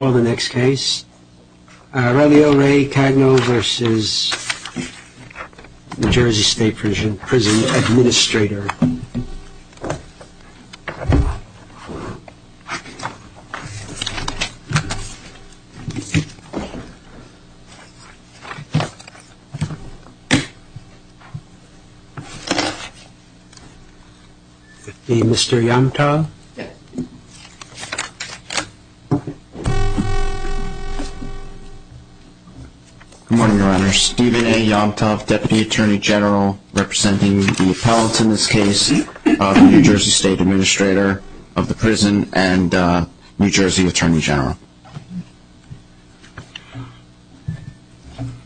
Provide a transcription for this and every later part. Well, the next case, Aurelio Ray Cagno v. NJ State Prison Administrator. Mr. Yamato. Good morning, Your Honor. I'm here with Mr. Stephen A. Yamato, Deputy Attorney General, representing the appellants in this case, the New Jersey State Administrator of the prison, and New Jersey Attorney General.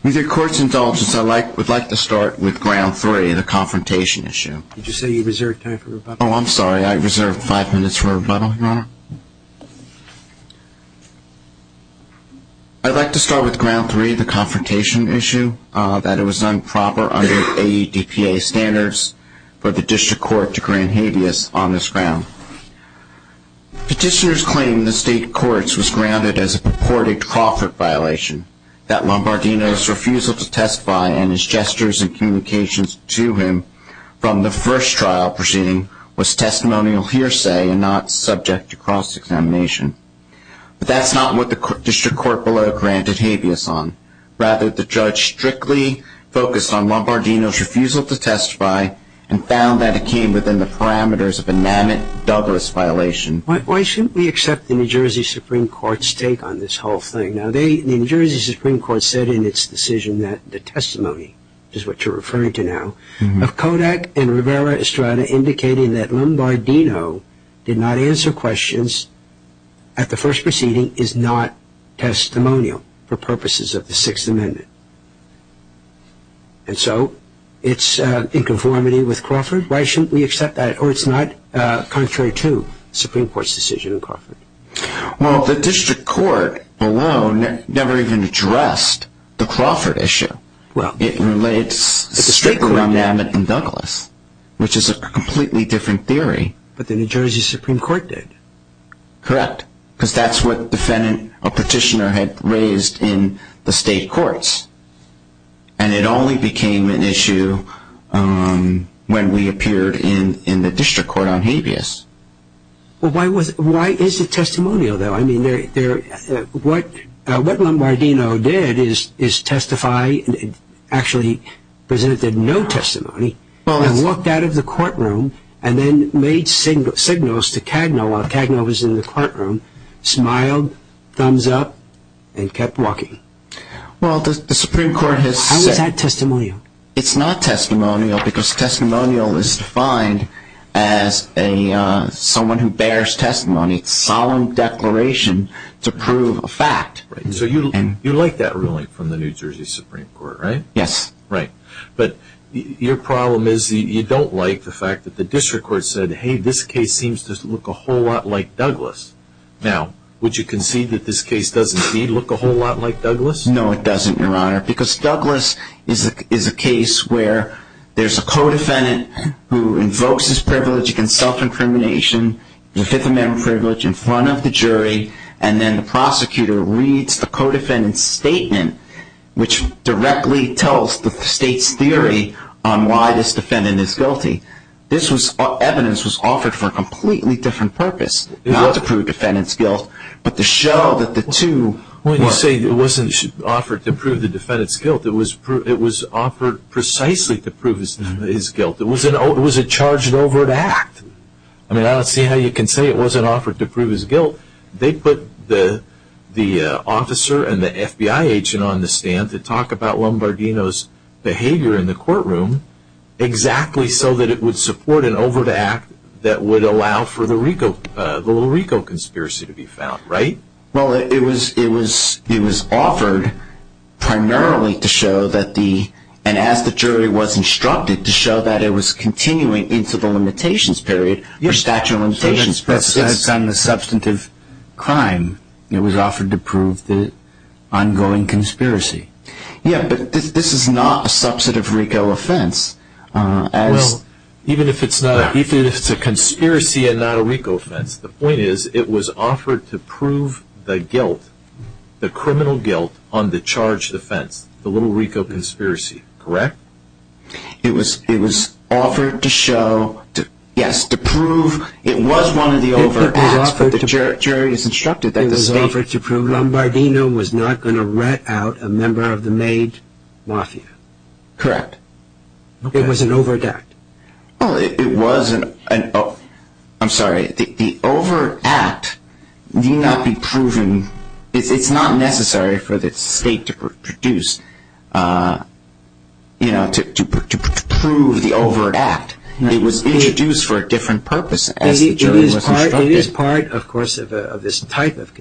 With your court's indulgence, I would like to start with ground three, the confrontation issue. Did you say you reserved time for rebuttal? Oh, I'm sorry. I reserved five minutes for rebuttal, Your Honor. I'd like to start with ground three, the confrontation issue, that it was improper under AEDPA standards for the district court to grant habeas on this ground. Petitioners claim the state courts was grounded as a purported Crawford violation, that Lombardino's refusal to testify and his gestures and communications to him from the first trial proceeding was testimonial hearsay and not subject to cross-examination. But that's not what the district court below granted habeas on. Rather, the judge strictly focused on Lombardino's refusal to testify and found that it came within the parameters of a Namit Douglas violation. Why shouldn't we accept the New Jersey Supreme Court's take on this whole thing? Now, the New Jersey Supreme Court said in its decision that the testimony, which is what you're referring to now, of Kodak and Rivera Estrada indicating that Lombardino did not answer questions at the first proceeding is not testimonial for purposes of the Sixth Amendment. And so it's in conformity with Crawford? Why shouldn't we accept that? Or it's not contrary to the Supreme Court's decision in Crawford? Well, the district court alone never even addressed the Crawford issue. It relates strictly to Namit and Douglas, which is a completely different theory. But the New Jersey Supreme Court did. Correct. Because that's what a petitioner had raised in the state courts. And it only became an issue when we appeared in the district court on habeas. Well, why is it testimonial, though? I mean, what Lombardino did is testify, actually presented no testimony, and walked out of the courtroom and then made signals to Cagno while Cagno was in the courtroom, smiled, thumbs up, and kept walking. Well, the Supreme Court has said... How is that testimonial? It's not testimonial because testimonial is defined as someone who bears testimony. It's solemn declaration to prove a fact. So you like that ruling from the New Jersey Supreme Court, right? Yes. Right. But your problem is you don't like the fact that the district court said, hey, this case seems to look a whole lot like Douglas. Now, would you concede that this case doesn't, indeed, look a whole lot like Douglas? No, it doesn't, Your Honor, because Douglas is a case where there's a co-defendant who invokes his privilege against self-incrimination, the Fifth Amendment privilege, in front of the jury, and then the prosecutor reads the co-defendant's statement, which directly tells the state's theory on why this defendant is guilty. This evidence was offered for a completely different purpose. Not to prove the defendant's guilt, but to show that the two... When you say it wasn't offered to prove the defendant's guilt, it was offered precisely to prove his guilt. It was a charged-over act. I mean, I don't see how you can say it wasn't offered to prove his guilt. They put the officer and the FBI agent on the stand to talk about Lombardino's behavior in the courtroom exactly so that it would support an over-the-act that would allow for the little Rico conspiracy to be found, right? Well, it was offered primarily to show that the... and as the jury was instructed, to show that it was continuing into the limitations period for statute of limitations purposes. So that's done the substantive crime. It was offered to prove the ongoing conspiracy. Yeah, but this is not a substantive Rico offense. Well, even if it's a conspiracy and not a Rico offense, the point is it was offered to prove the guilt, the criminal guilt on the charged offense, the little Rico conspiracy, correct? It was offered to show, yes, to prove it was one of the over-acts, but the jury was instructed that the state... It was offered to prove Lombardino was not going to rat out a member of the Maid Mafia. Correct. It was an over-act. Well, it was an... I'm sorry, the over-act need not be proven... it's not necessary for the state to produce, you know, to prove the over-act. It was introduced for a different purpose as the jury was instructed. It is part, of course, of this type of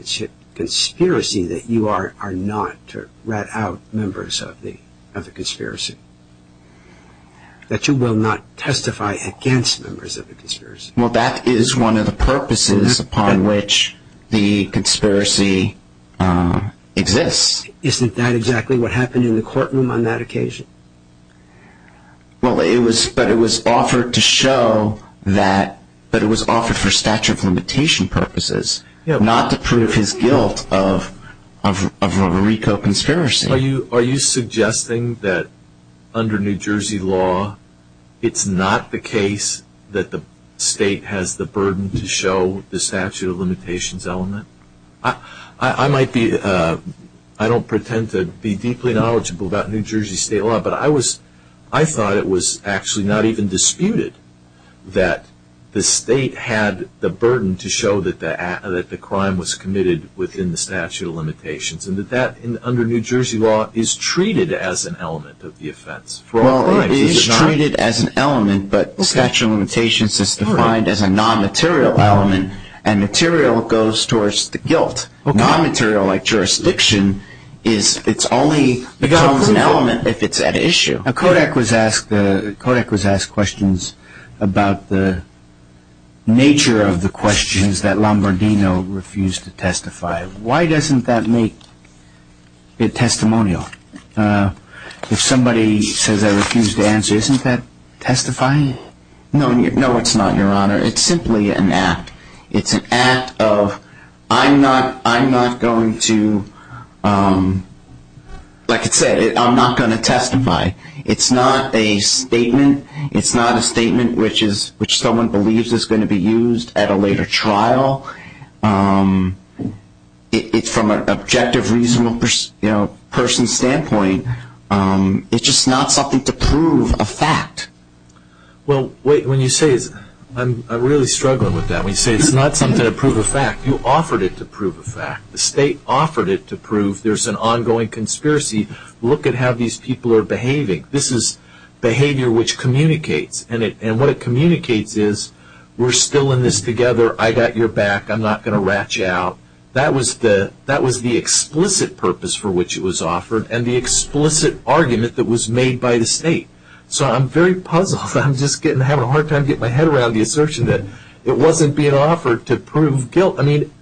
conspiracy that you are not to rat out members of the conspiracy, that you will not testify against members of the conspiracy. Well, that is one of the purposes upon which the conspiracy exists. Isn't that exactly what happened in the courtroom on that occasion? Well, it was offered to show that it was offered for statute of limitation purposes, not to prove his guilt of a Rico conspiracy. Are you suggesting that under New Jersey law, it's not the case that the state has the burden to show the statute of limitations element? I might be... I don't pretend to be deeply knowledgeable about New Jersey state law, but I thought it was actually not even disputed that the state had the burden to show that the crime was committed within the statute of limitations, and that that, under New Jersey law, is treated as an element of the offense. Well, it is treated as an element, but the statute of limitations is defined as a non-material element, and material goes towards the guilt. Non-material, like jurisdiction, it only becomes an element if it's at issue. Kodak was asked questions about the nature of the questions that Lombardino refused to testify. Why doesn't that make it testimonial? If somebody says I refuse to answer, isn't that testifying? No, it's not, Your Honor. It's simply an act. It's an act of, I'm not going to, like I said, I'm not going to testify. It's not a statement. It's not a statement which someone believes is going to be used at a later trial. It's from an objective, reasonable person's standpoint. It's just not something to prove a fact. Well, wait, when you say this, I'm really struggling with that. When you say it's not something to prove a fact, you offered it to prove a fact. The state offered it to prove there's an ongoing conspiracy. Look at how these people are behaving. This is behavior which communicates, and what it communicates is we're still in this together. I got your back. I'm not going to rat you out. That was the explicit purpose for which it was offered and the explicit argument that was made by the state. So I'm very puzzled. I'm just having a hard time getting my head around the assertion that it wasn't being offered to prove guilt. I mean,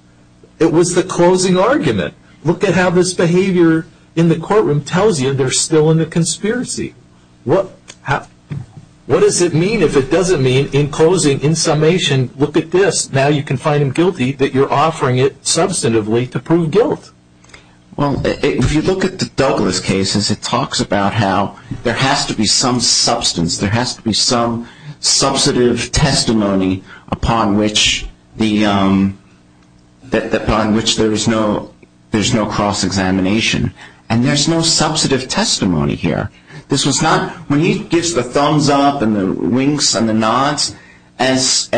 it was the closing argument. Look at how this behavior in the courtroom tells you they're still in a conspiracy. What does it mean if it doesn't mean in closing, in summation, look at this. Now you can find him guilty that you're offering it substantively to prove guilt. Well, if you look at the Douglas cases, it talks about how there has to be some substance. There has to be some substantive testimony upon which there is no cross-examination. And there's no substantive testimony here. When he gives the thumbs up and the winks and the nods, as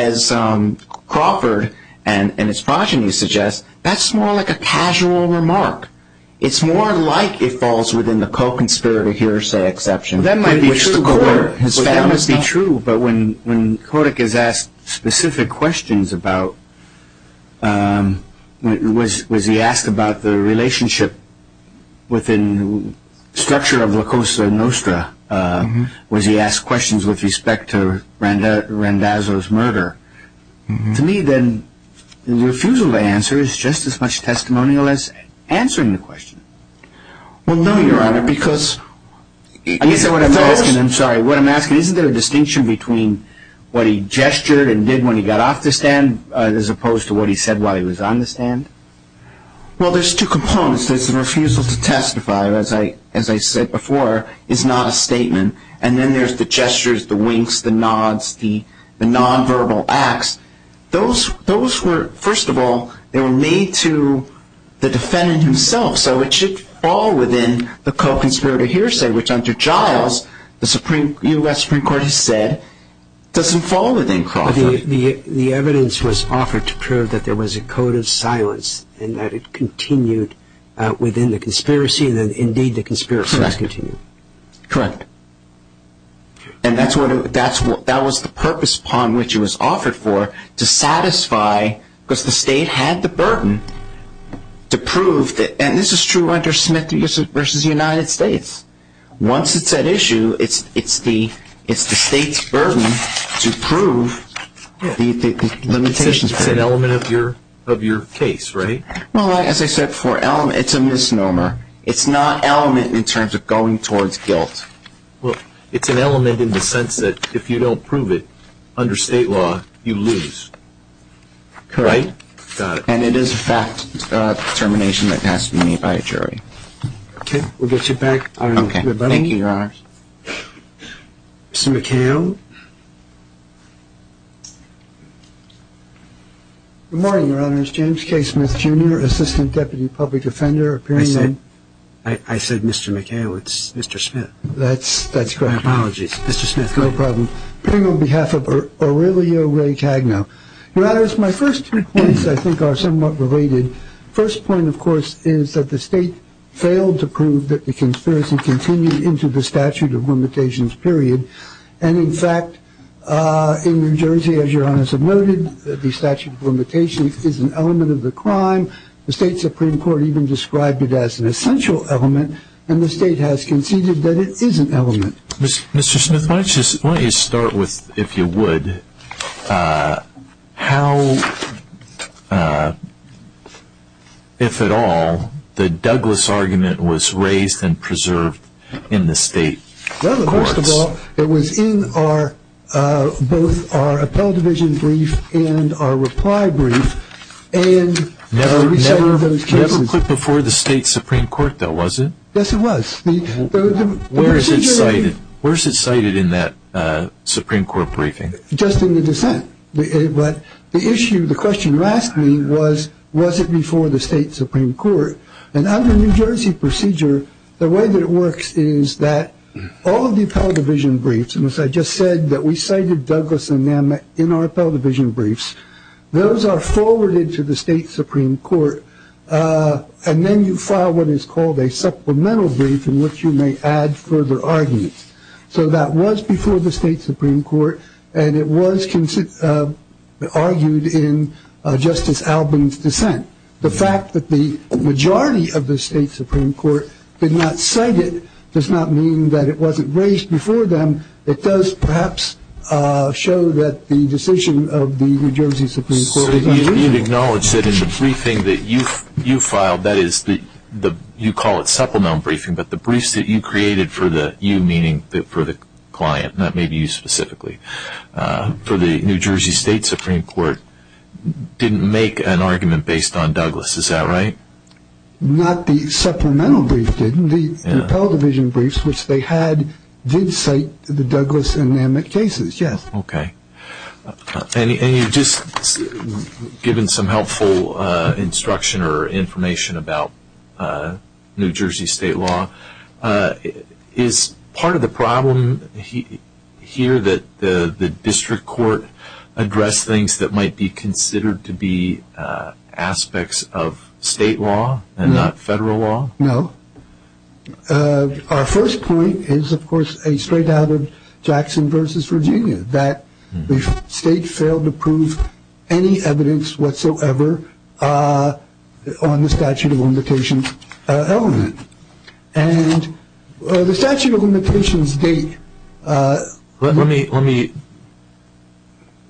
Crawford and his progeny suggest, that's more like a casual remark. It's more like it falls within the co-conspirator hearsay exception. That might be true. Well, that must be true. But when Kodak is asked specific questions about, was he asked about the relationship within the structure of La Cosa Nostra? Was he asked questions with respect to Randazzo's murder? To me, then, the refusal to answer is just as much testimonial as answering the question. Well, no, Your Honor, because of those. I guess what I'm asking, I'm sorry, what I'm asking, isn't there a distinction between what he gestured and did when he got off the stand as opposed to what he said while he was on the stand? Well, there's two components. There's the refusal to testify, as I said before, is not a statement. And then there's the gestures, the winks, the nods, the nonverbal acts. Those were, first of all, they were made to the defendant himself, so it should fall within the co-conspirator hearsay, which under Giles, the U.S. Supreme Court has said, doesn't fall within Crawford. The evidence was offered to prove that there was a code of silence and that it continued within the conspiracy and that, indeed, the conspiracy has continued. Correct. And that was the purpose upon which it was offered for, to satisfy, because the state had the burden to prove, and this is true under Smith v. United States, once it's at issue, it's the state's burden to prove the limitations. It's an element of your case, right? Well, as I said before, it's a misnomer. It's not element in terms of going towards guilt. Well, it's an element in the sense that if you don't prove it under state law, you lose. Correct. Got it. And it is a fact determination that has to be made by a jury. Okay. We'll get you back. Okay. Mr. McHale. Good morning, Your Honors. James K. Smith, Jr., Assistant Deputy Public Offender. I said Mr. McHale. It's Mr. Smith. That's correct. My apologies. Mr. Smith, go ahead. No problem. Appearing on behalf of Aurelio Ray Cagno. Your Honors, my first two points, I think, are somewhat related. First point, of course, is that the state failed to prove that the conspiracy continued into the statute of limitations, period. And, in fact, in New Jersey, as Your Honors have noted, the statute of limitations is an element of the crime. The state Supreme Court even described it as an essential element, and the state has conceded that it is an element. Mr. Smith, why don't you start with, if you would, how, if at all, the Douglas argument was raised and preserved in the state courts. Well, first of all, it was in both our appellate division brief and our reply brief. Never put before the state Supreme Court, though, was it? Yes, it was. Where is it cited? Where is it cited in that Supreme Court briefing? Just in the dissent. But the issue, the question you asked me was, was it before the state Supreme Court? And under New Jersey procedure, the way that it works is that all of the appellate division briefs, and as I just said, that we cited Douglas and them in our appellate division briefs. Those are forwarded to the state Supreme Court. And then you file what is called a supplemental brief in which you may add further arguments. So that was before the state Supreme Court, and it was argued in Justice Albin's dissent. The fact that the majority of the state Supreme Court did not cite it does not mean that it wasn't raised before them. It does perhaps show that the decision of the New Jersey Supreme Court is unreasonable. So you acknowledge that in the briefing that you filed, that is the, you call it supplemental briefing, but the briefs that you created for the, you meaning for the client, not maybe you specifically, for the New Jersey State Supreme Court didn't make an argument based on Douglas. Is that right? Not the supplemental brief did. The appellate division briefs, which they had, did cite the Douglas and them in cases, yes. Okay. And you just, given some helpful instruction or information about New Jersey state law, is part of the problem here that the district court addressed things that might be considered to be aspects of state law and not federal law? No. Our first point is, of course, a straight out of Jackson versus Virginia, that the state failed to prove any evidence whatsoever on the statute of limitations element. And the statute of limitations date. Let me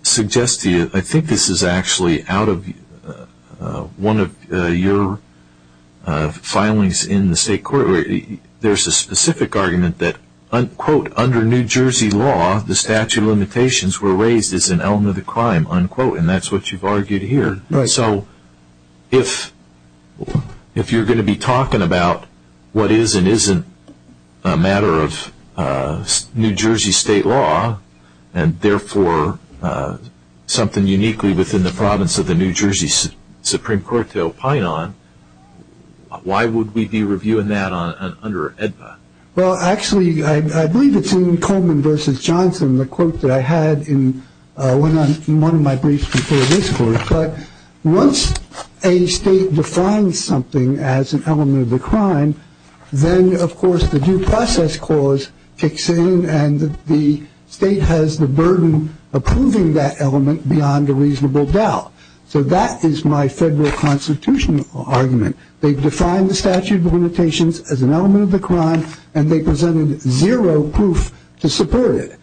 suggest to you, I think this is actually out of one of your filings in the state court. There's a specific argument that, quote, under New Jersey law, the statute of limitations were raised as an element of the crime, unquote, and that's what you've argued here. Right. So if you're going to be talking about what is and isn't a matter of New Jersey state law and, therefore, something uniquely within the province of the New Jersey Supreme Court to opine on, why would we be reviewing that under AEDPA? Well, actually, I believe it's in Coleman versus Johnson, the quote that I had in one of my briefs before this court. But once a state defines something as an element of the crime, then, of course, the due process clause kicks in and the state has the burden of proving that element beyond a reasonable doubt. So that is my federal constitutional argument. They've defined the statute of limitations as an element of the crime, and they presented zero proof to support it,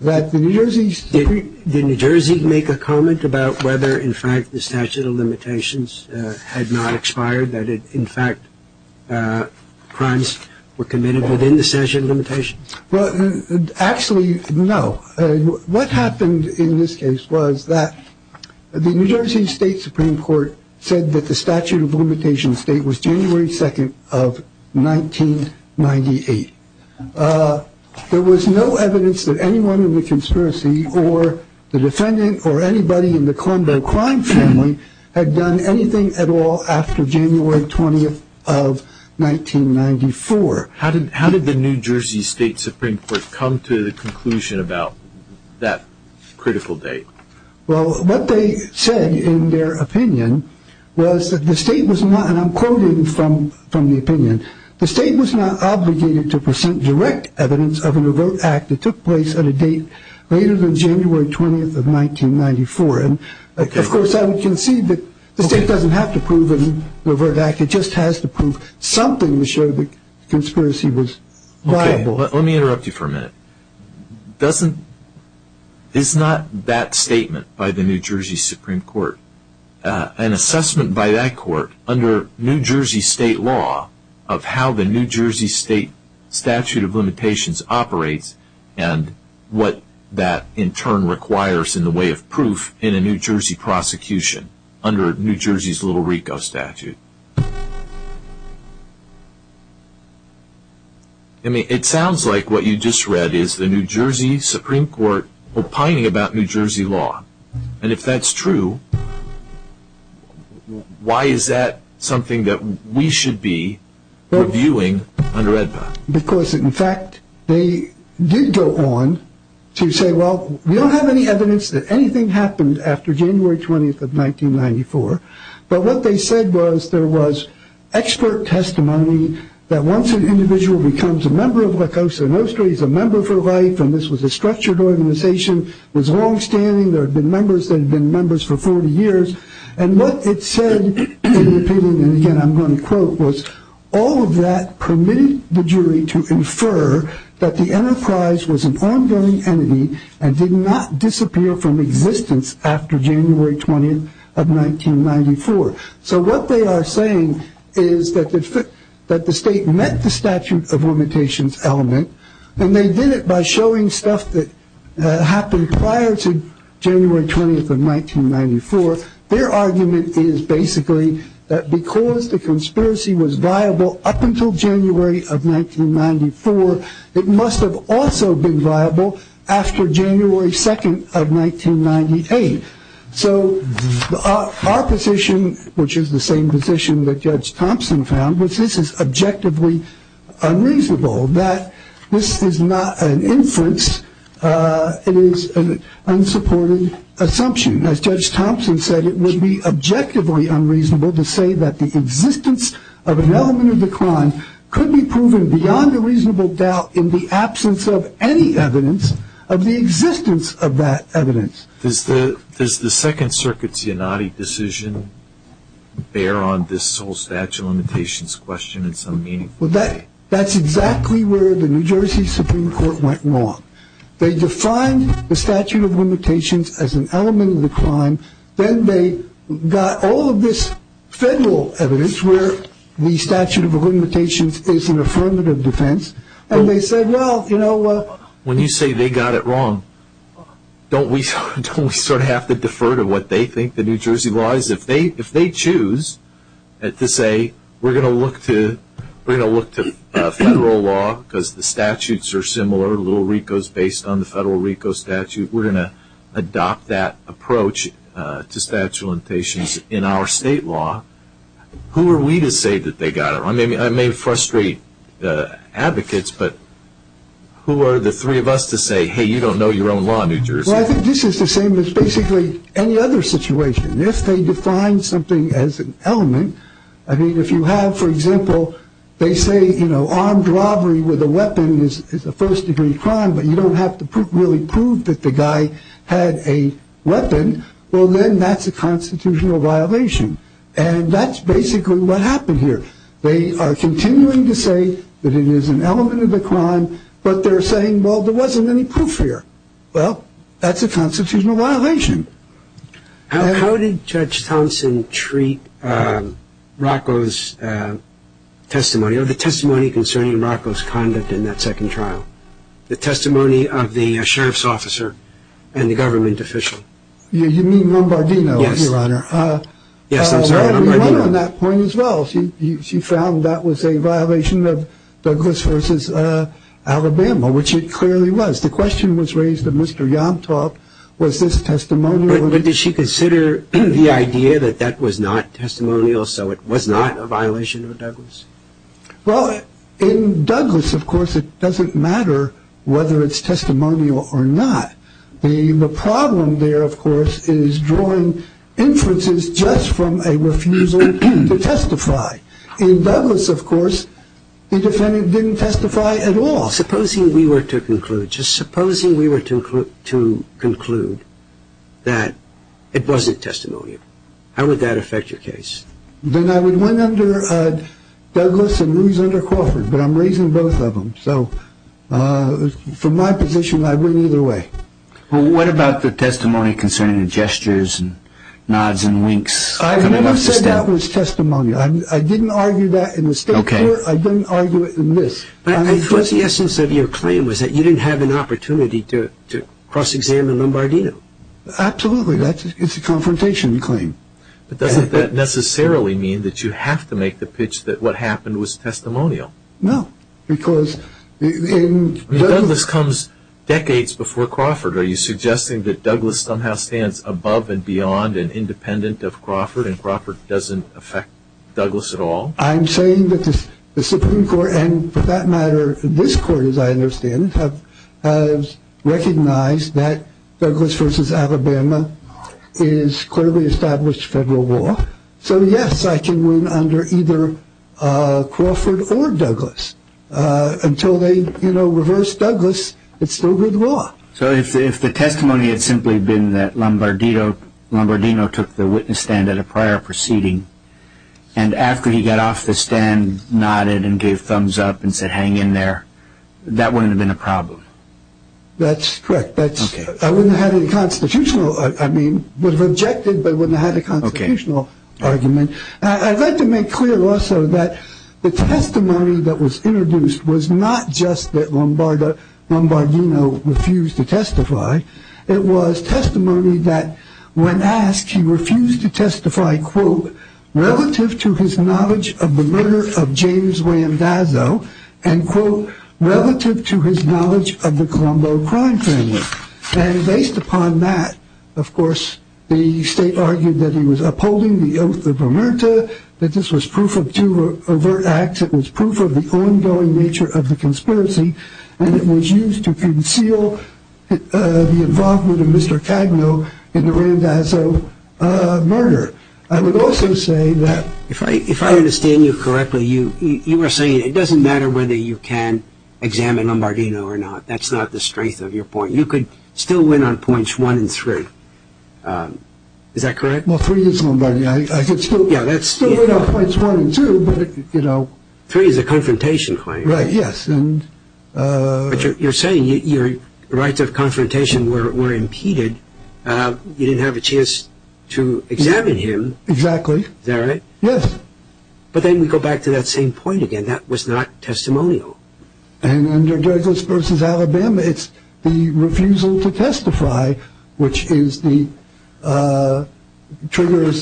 that the New Jersey Supreme Court. Can I make a comment about whether, in fact, the statute of limitations had not expired, that, in fact, crimes were committed within the statute of limitations? Well, actually, no. What happened in this case was that the New Jersey State Supreme Court said that the statute of limitations date was January 2nd of 1998. There was no evidence that anyone in the conspiracy or the defendant or anybody in the Colombo crime family had done anything at all after January 20th of 1994. How did the New Jersey State Supreme Court come to the conclusion about that critical date? Well, what they said in their opinion was that the state was not, and I'm quoting from the opinion, the state was not obligated to present direct evidence of an overt act that took place at a date later than January 20th of 1994. Of course, I would concede that the state doesn't have to prove an overt act. It just has to prove something to show that the conspiracy was viable. Let me interrupt you for a minute. It's not that statement by the New Jersey Supreme Court. It's an assessment by that court under New Jersey State law of how the New Jersey State statute of limitations operates and what that in turn requires in the way of proof in a New Jersey prosecution under New Jersey's Little Rico statute. It sounds like what you just read is the New Jersey Supreme Court opining about New Jersey law. And if that's true, why is that something that we should be reviewing under AEDPA? Because, in fact, they did go on to say, well, we don't have any evidence that anything happened after January 20th of 1994. But what they said was there was expert testimony that once an individual becomes a member of La Cosa Nostra, he's a member for life, and this was a structured organization. It was longstanding. There had been members that had been members for 40 years. And what it said in the opinion, and again I'm going to quote, was all of that permitted the jury to infer that the enterprise was an ongoing entity and did not disappear from existence after January 20th of 1994. So what they are saying is that the state met the statute of limitations element and they did it by showing stuff that happened prior to January 20th of 1994. Their argument is basically that because the conspiracy was viable up until January of 1994, it must have also been viable after January 2nd of 1998. So our position, which is the same position that Judge Thompson found, was this is objectively unreasonable, that this is not an inference. It is an unsupported assumption. As Judge Thompson said, it would be objectively unreasonable to say that the existence of an element of the crime could be proven beyond a reasonable doubt in the absence of any evidence of the existence of that evidence. Does the Second Circuit's Yanadi decision bear on this whole statute of limitations question in some meaningful way? That's exactly where the New Jersey Supreme Court went wrong. They defined the statute of limitations as an element of the crime. Then they got all of this federal evidence where the statute of limitations is an affirmative defense. When you say they got it wrong, don't we sort of have to defer to what they think the New Jersey law is? If they choose to say we're going to look to federal law because the statutes are similar, Little Rico is based on the Federal Rico statute, we're going to adopt that approach to statute of limitations in our state law. Who are we to say that they got it wrong? I may frustrate advocates, but who are the three of us to say, hey, you don't know your own law, New Jersey? Well, I think this is the same as basically any other situation. If they define something as an element, I mean, if you have, for example, they say armed robbery with a weapon is a first-degree crime, but you don't have to really prove that the guy had a weapon, well, then that's a constitutional violation. And that's basically what happened here. They are continuing to say that it is an element of the crime, but they're saying, well, there wasn't any proof here. Well, that's a constitutional violation. How did Judge Thompson treat Rocco's testimony or the testimony concerning Rocco's conduct in that second trial, the testimony of the sheriff's officer and the government official? You mean Lombardino, Your Honor? Yes. Yes, I'm sorry. Lombardino on that point as well. She found that was a violation of Douglas v. Alabama, which it clearly was. The question was raised at Mr. Yomtov, was this testimonial? But did she consider the idea that that was not testimonial, so it was not a violation of Douglas? Well, in Douglas, of course, it doesn't matter whether it's testimonial or not. The problem there, of course, is drawing inferences just from a refusal to testify. In Douglas, of course, the defendant didn't testify at all. Supposing we were to conclude, just supposing we were to conclude that it wasn't testimonial, how would that affect your case? Then I would win under Douglas and lose under Crawford, but I'm raising both of them. So from my position, I would either way. Well, what about the testimony concerning the gestures and nods and winks? I never said that was testimonial. I didn't argue that in the State Court. I didn't argue it in this. I guess the essence of your claim was that you didn't have an opportunity to cross-examine Lombardino. Absolutely. It's a confrontation claim. But doesn't that necessarily mean that you have to make the pitch that what happened was testimonial? No, because in Douglas- Douglas comes decades before Crawford. Are you suggesting that Douglas somehow stands above and beyond and independent of Crawford and Crawford doesn't affect Douglas at all? I'm saying that the Supreme Court and, for that matter, this Court, as I understand, has recognized that Douglas v. Alabama is clearly established federal law. So, yes, I can win under either Crawford or Douglas. Until they reverse Douglas, it's still good law. So if the testimony had simply been that Lombardino took the witness stand at a prior proceeding and after he got off the stand nodded and gave thumbs up and said hang in there, that wouldn't have been a problem? That's correct. I wouldn't have had a constitutional argument. I'd like to make clear also that the testimony that was introduced was not just that Lombardino refused to testify. It was testimony that, when asked, he refused to testify, quote, relative to his knowledge of the murder of James William Dazzo, and, quote, relative to his knowledge of the Colombo crime family. And based upon that, of course, the State argued that he was upholding the oath of emerita, that this was proof of two overt acts, it was proof of the ongoing nature of the conspiracy, and it was used to conceal the involvement of Mr. Cagno in the Randazzo murder. I would also say that if I understand you correctly, you were saying it doesn't matter whether you can examine Lombardino or not. That's not the strength of your point. You could still win on points one and three. Is that correct? Well, three is Lombardino. I could still win on points one and two, but, you know. Three is a confrontation claim. Right. Yes. But you're saying your rights of confrontation were impeded. You didn't have a chance to examine him. Exactly. Is that right? Yes. But then we go back to that same point again. That was not testimonial. And under Douglas v. Alabama, it's the refusal to testify, which triggers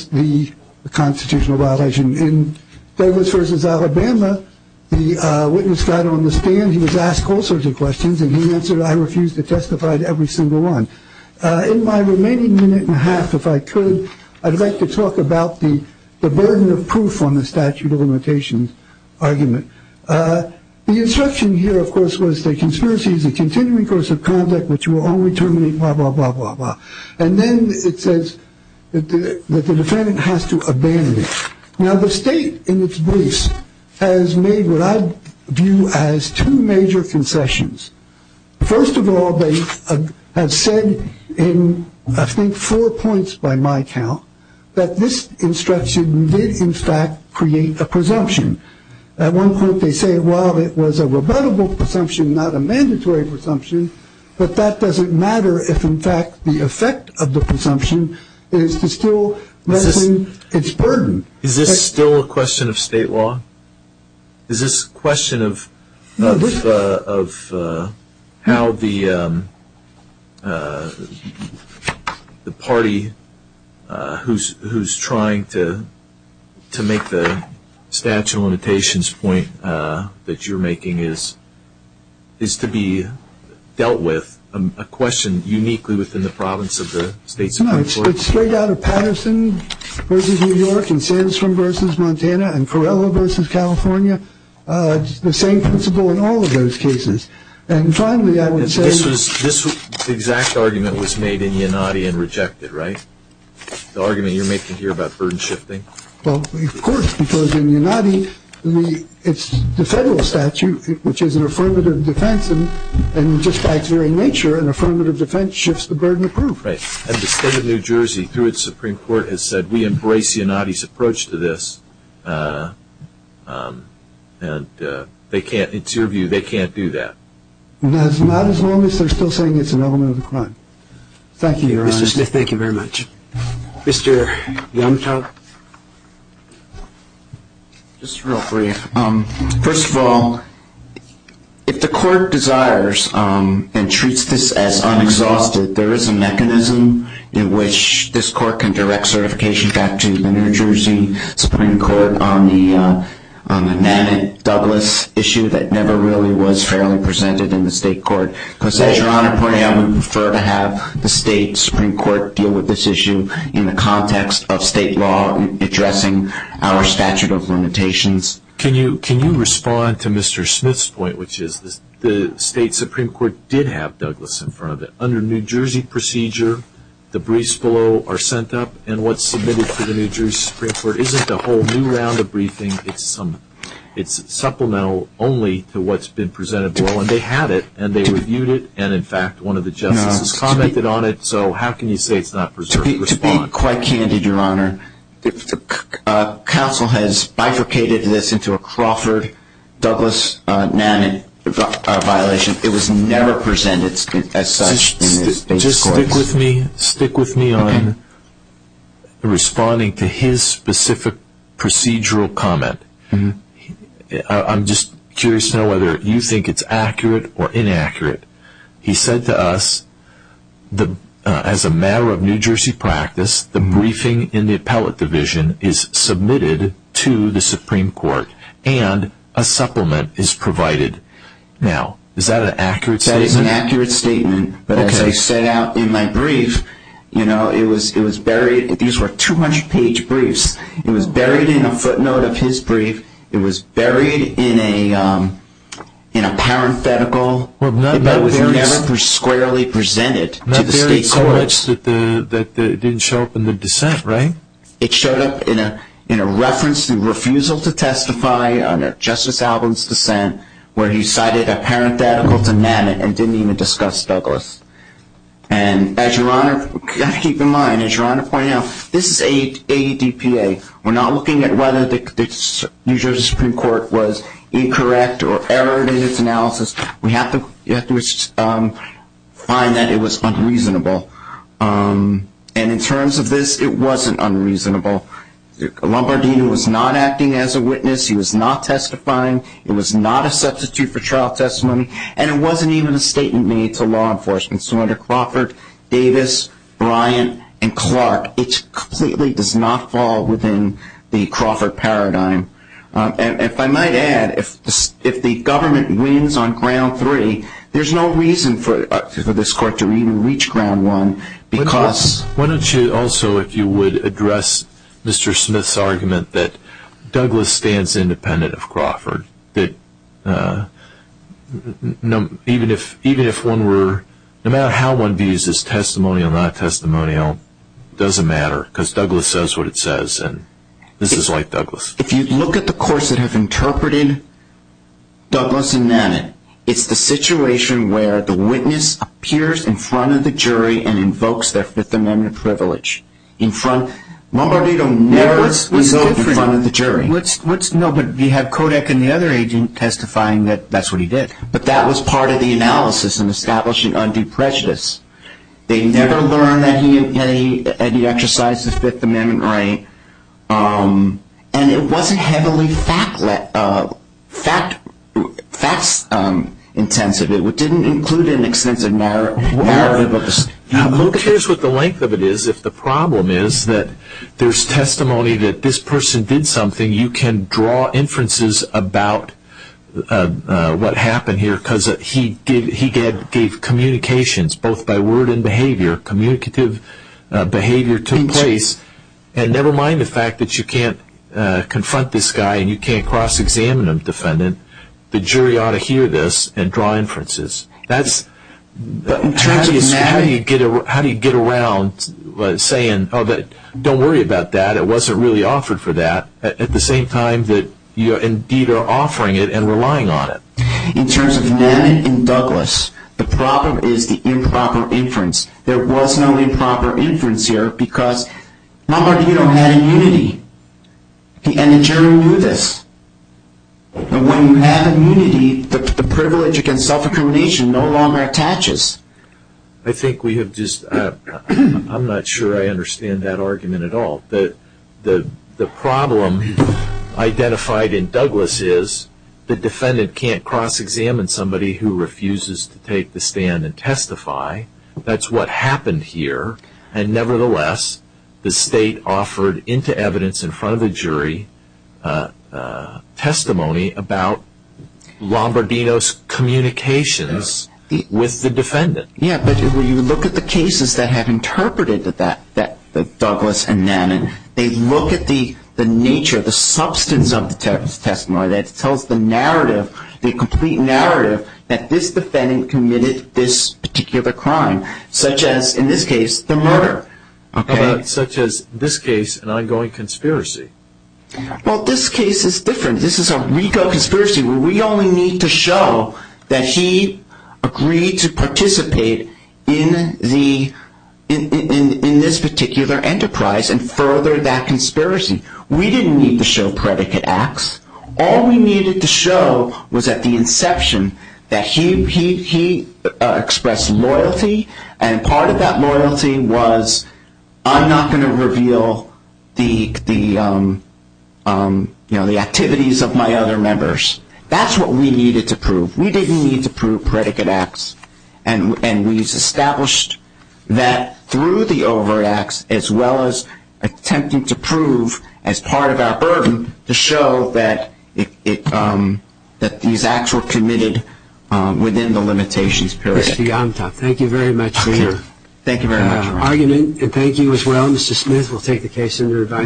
the constitutional violation. In Douglas v. Alabama, the witness got on the stand, he was asked all sorts of questions, and he answered, I refuse to testify to every single one. In my remaining minute and a half, if I could, I'd like to talk about the burden of proof on the statute of limitations argument. The instruction here, of course, was the conspiracy is a continuing course of conduct which will only terminate blah, blah, blah, blah, blah. And then it says that the defendant has to abandon it. Now, the state, in its briefs, has made what I view as two major concessions. First of all, they have said in, I think, four points by my count, that this instruction did, in fact, create a presumption. At one point they say, well, it was a rebuttable presumption, not a mandatory presumption, but that doesn't matter if, in fact, the effect of the presumption is to still lessen its burden. Is this still a question of state law? Is this a question of how the party who's trying to make the statute of limitations point that you're making is to be dealt with, a question uniquely within the province of the state Supreme Court? No, it's straight out of Patterson v. New York and Sandstrom v. Montana and Corrella v. California. It's the same principle in all of those cases. And finally, I would say this exact argument was made in Yanadi and rejected, right? The argument you're making here about burden shifting? Well, of course, because in Yanadi, it's the federal statute, which is an affirmative defense, and just by its very nature, an affirmative defense shifts the burden of proof. Right. And the state of New Jersey, through its Supreme Court, has said we embrace Yanadi's approach to this. And it's your view they can't do that? Not as long as they're still saying it's an element of the crime. Thank you, Your Honor. Mr. Smith, thank you very much. Mr. Youngtown? Just real brief. First of all, if the court desires and treats this as unexhausted, there is a mechanism in which this court can direct certification back to the New Jersey Supreme Court on the Manet-Douglas issue that never really was fairly presented in the state court. Because as Your Honor pointed out, we prefer to have the state Supreme Court deal with this issue in the context of state law addressing our statute of limitations. Can you respond to Mr. Smith's point, which is the state Supreme Court did have Douglas in front of it. Under New Jersey procedure, the briefs below are sent up, and what's submitted to the New Jersey Supreme Court isn't a whole new round of briefing. It's supplemental only to what's been presented below. And they had it, and they reviewed it, and in fact, one of the justices commented on it. So how can you say it's not preserved? To be quite candid, Your Honor, counsel has bifurcated this into a Crawford-Douglas-Manet violation. It was never presented as such in the state courts. Just stick with me on responding to his specific procedural comment. I'm just curious to know whether you think it's accurate or inaccurate. He said to us, as a matter of New Jersey practice, the briefing in the appellate division is submitted to the Supreme Court, and a supplement is provided. Now, is that an accurate statement? That is an accurate statement. But as I set out in my brief, you know, it was buried. These were 200-page briefs. It was buried in a footnote of his brief. It was buried in a parenthetical. It was never squarely presented to the state courts. Not buried so much that it didn't show up in the dissent, right? It showed up in a reference to refusal to testify under Justice Albin's dissent where he cited a parenthetical to Manet and didn't even discuss Douglas. And as Your Honor, keep in mind, as Your Honor pointed out, this is ADPA. We're not looking at whether the New Jersey Supreme Court was incorrect or errored in its analysis. We have to find that it was unreasonable. And in terms of this, it wasn't unreasonable. Lombardino was not acting as a witness. He was not testifying. It was not a substitute for trial testimony, and it wasn't even a statement made to law enforcement. So under Crawford, Davis, Bryant, and Clark, it completely does not fall within the Crawford paradigm. And if I might add, if the government wins on ground three, there's no reason for this court to even reach ground one because... Why don't you also, if you would, address Mr. Smith's argument that Douglas stands independent of Crawford, that even if one were, no matter how one views this, whether it's testimonial, not testimonial, it doesn't matter because Douglas says what it says, and this is like Douglas. If you look at the courts that have interpreted Douglas and Mamet, it's the situation where the witness appears in front of the jury and invokes their Fifth Amendment privilege. Lombardino never resolved in front of the jury. No, but you have Kodak and the other agent testifying that that's what he did. But that was part of the analysis in establishing undue prejudice. They never learned that he exercised the Fifth Amendment right. And it wasn't heavily fact-intensive. It didn't include an extensive narrative of this. Who cares what the length of it is if the problem is that there's testimony that this person did something. You can draw inferences about what happened here because he gave communications both by word and behavior. Communicative behavior took place. And never mind the fact that you can't confront this guy and you can't cross-examine him, defendant. The jury ought to hear this and draw inferences. How do you get around saying, don't worry about that, that wasn't really offered for that, at the same time that you indeed are offering it and relying on it? In terms of Namik and Douglas, the problem is the improper inference. There was no improper inference here because Lombardino had immunity. And the jury knew this. When you have immunity, the privilege against self-incrimination no longer attaches. I think we have just... I'm not sure I understand that argument at all. The problem identified in Douglas is the defendant can't cross-examine somebody who refuses to take the stand and testify. That's what happened here. And nevertheless, the state offered into evidence in front of the jury testimony about Lombardino's communications with the defendant. Yeah, but when you look at the cases that have interpreted that, Douglas and Namik, they look at the nature, the substance of the testimony. It tells the narrative, the complete narrative, that this defendant committed this particular crime, such as, in this case, the murder. Such as, in this case, an ongoing conspiracy. Well, this case is different. This is a RICO conspiracy. We only need to show that he agreed to participate in this particular enterprise and further that conspiracy. We didn't need to show predicate acts. All we needed to show was at the inception that he expressed loyalty, and part of that loyalty was, I'm not going to reveal the activities of my other members. That's what we needed to prove. We didn't need to prove predicate acts. And we established that through the overt acts as well as attempting to prove, as part of our burden, to show that these acts were committed within the limitations. Thank you very much for your argument, and thank you as well, Mr. Smith. We'll take the case under advisory.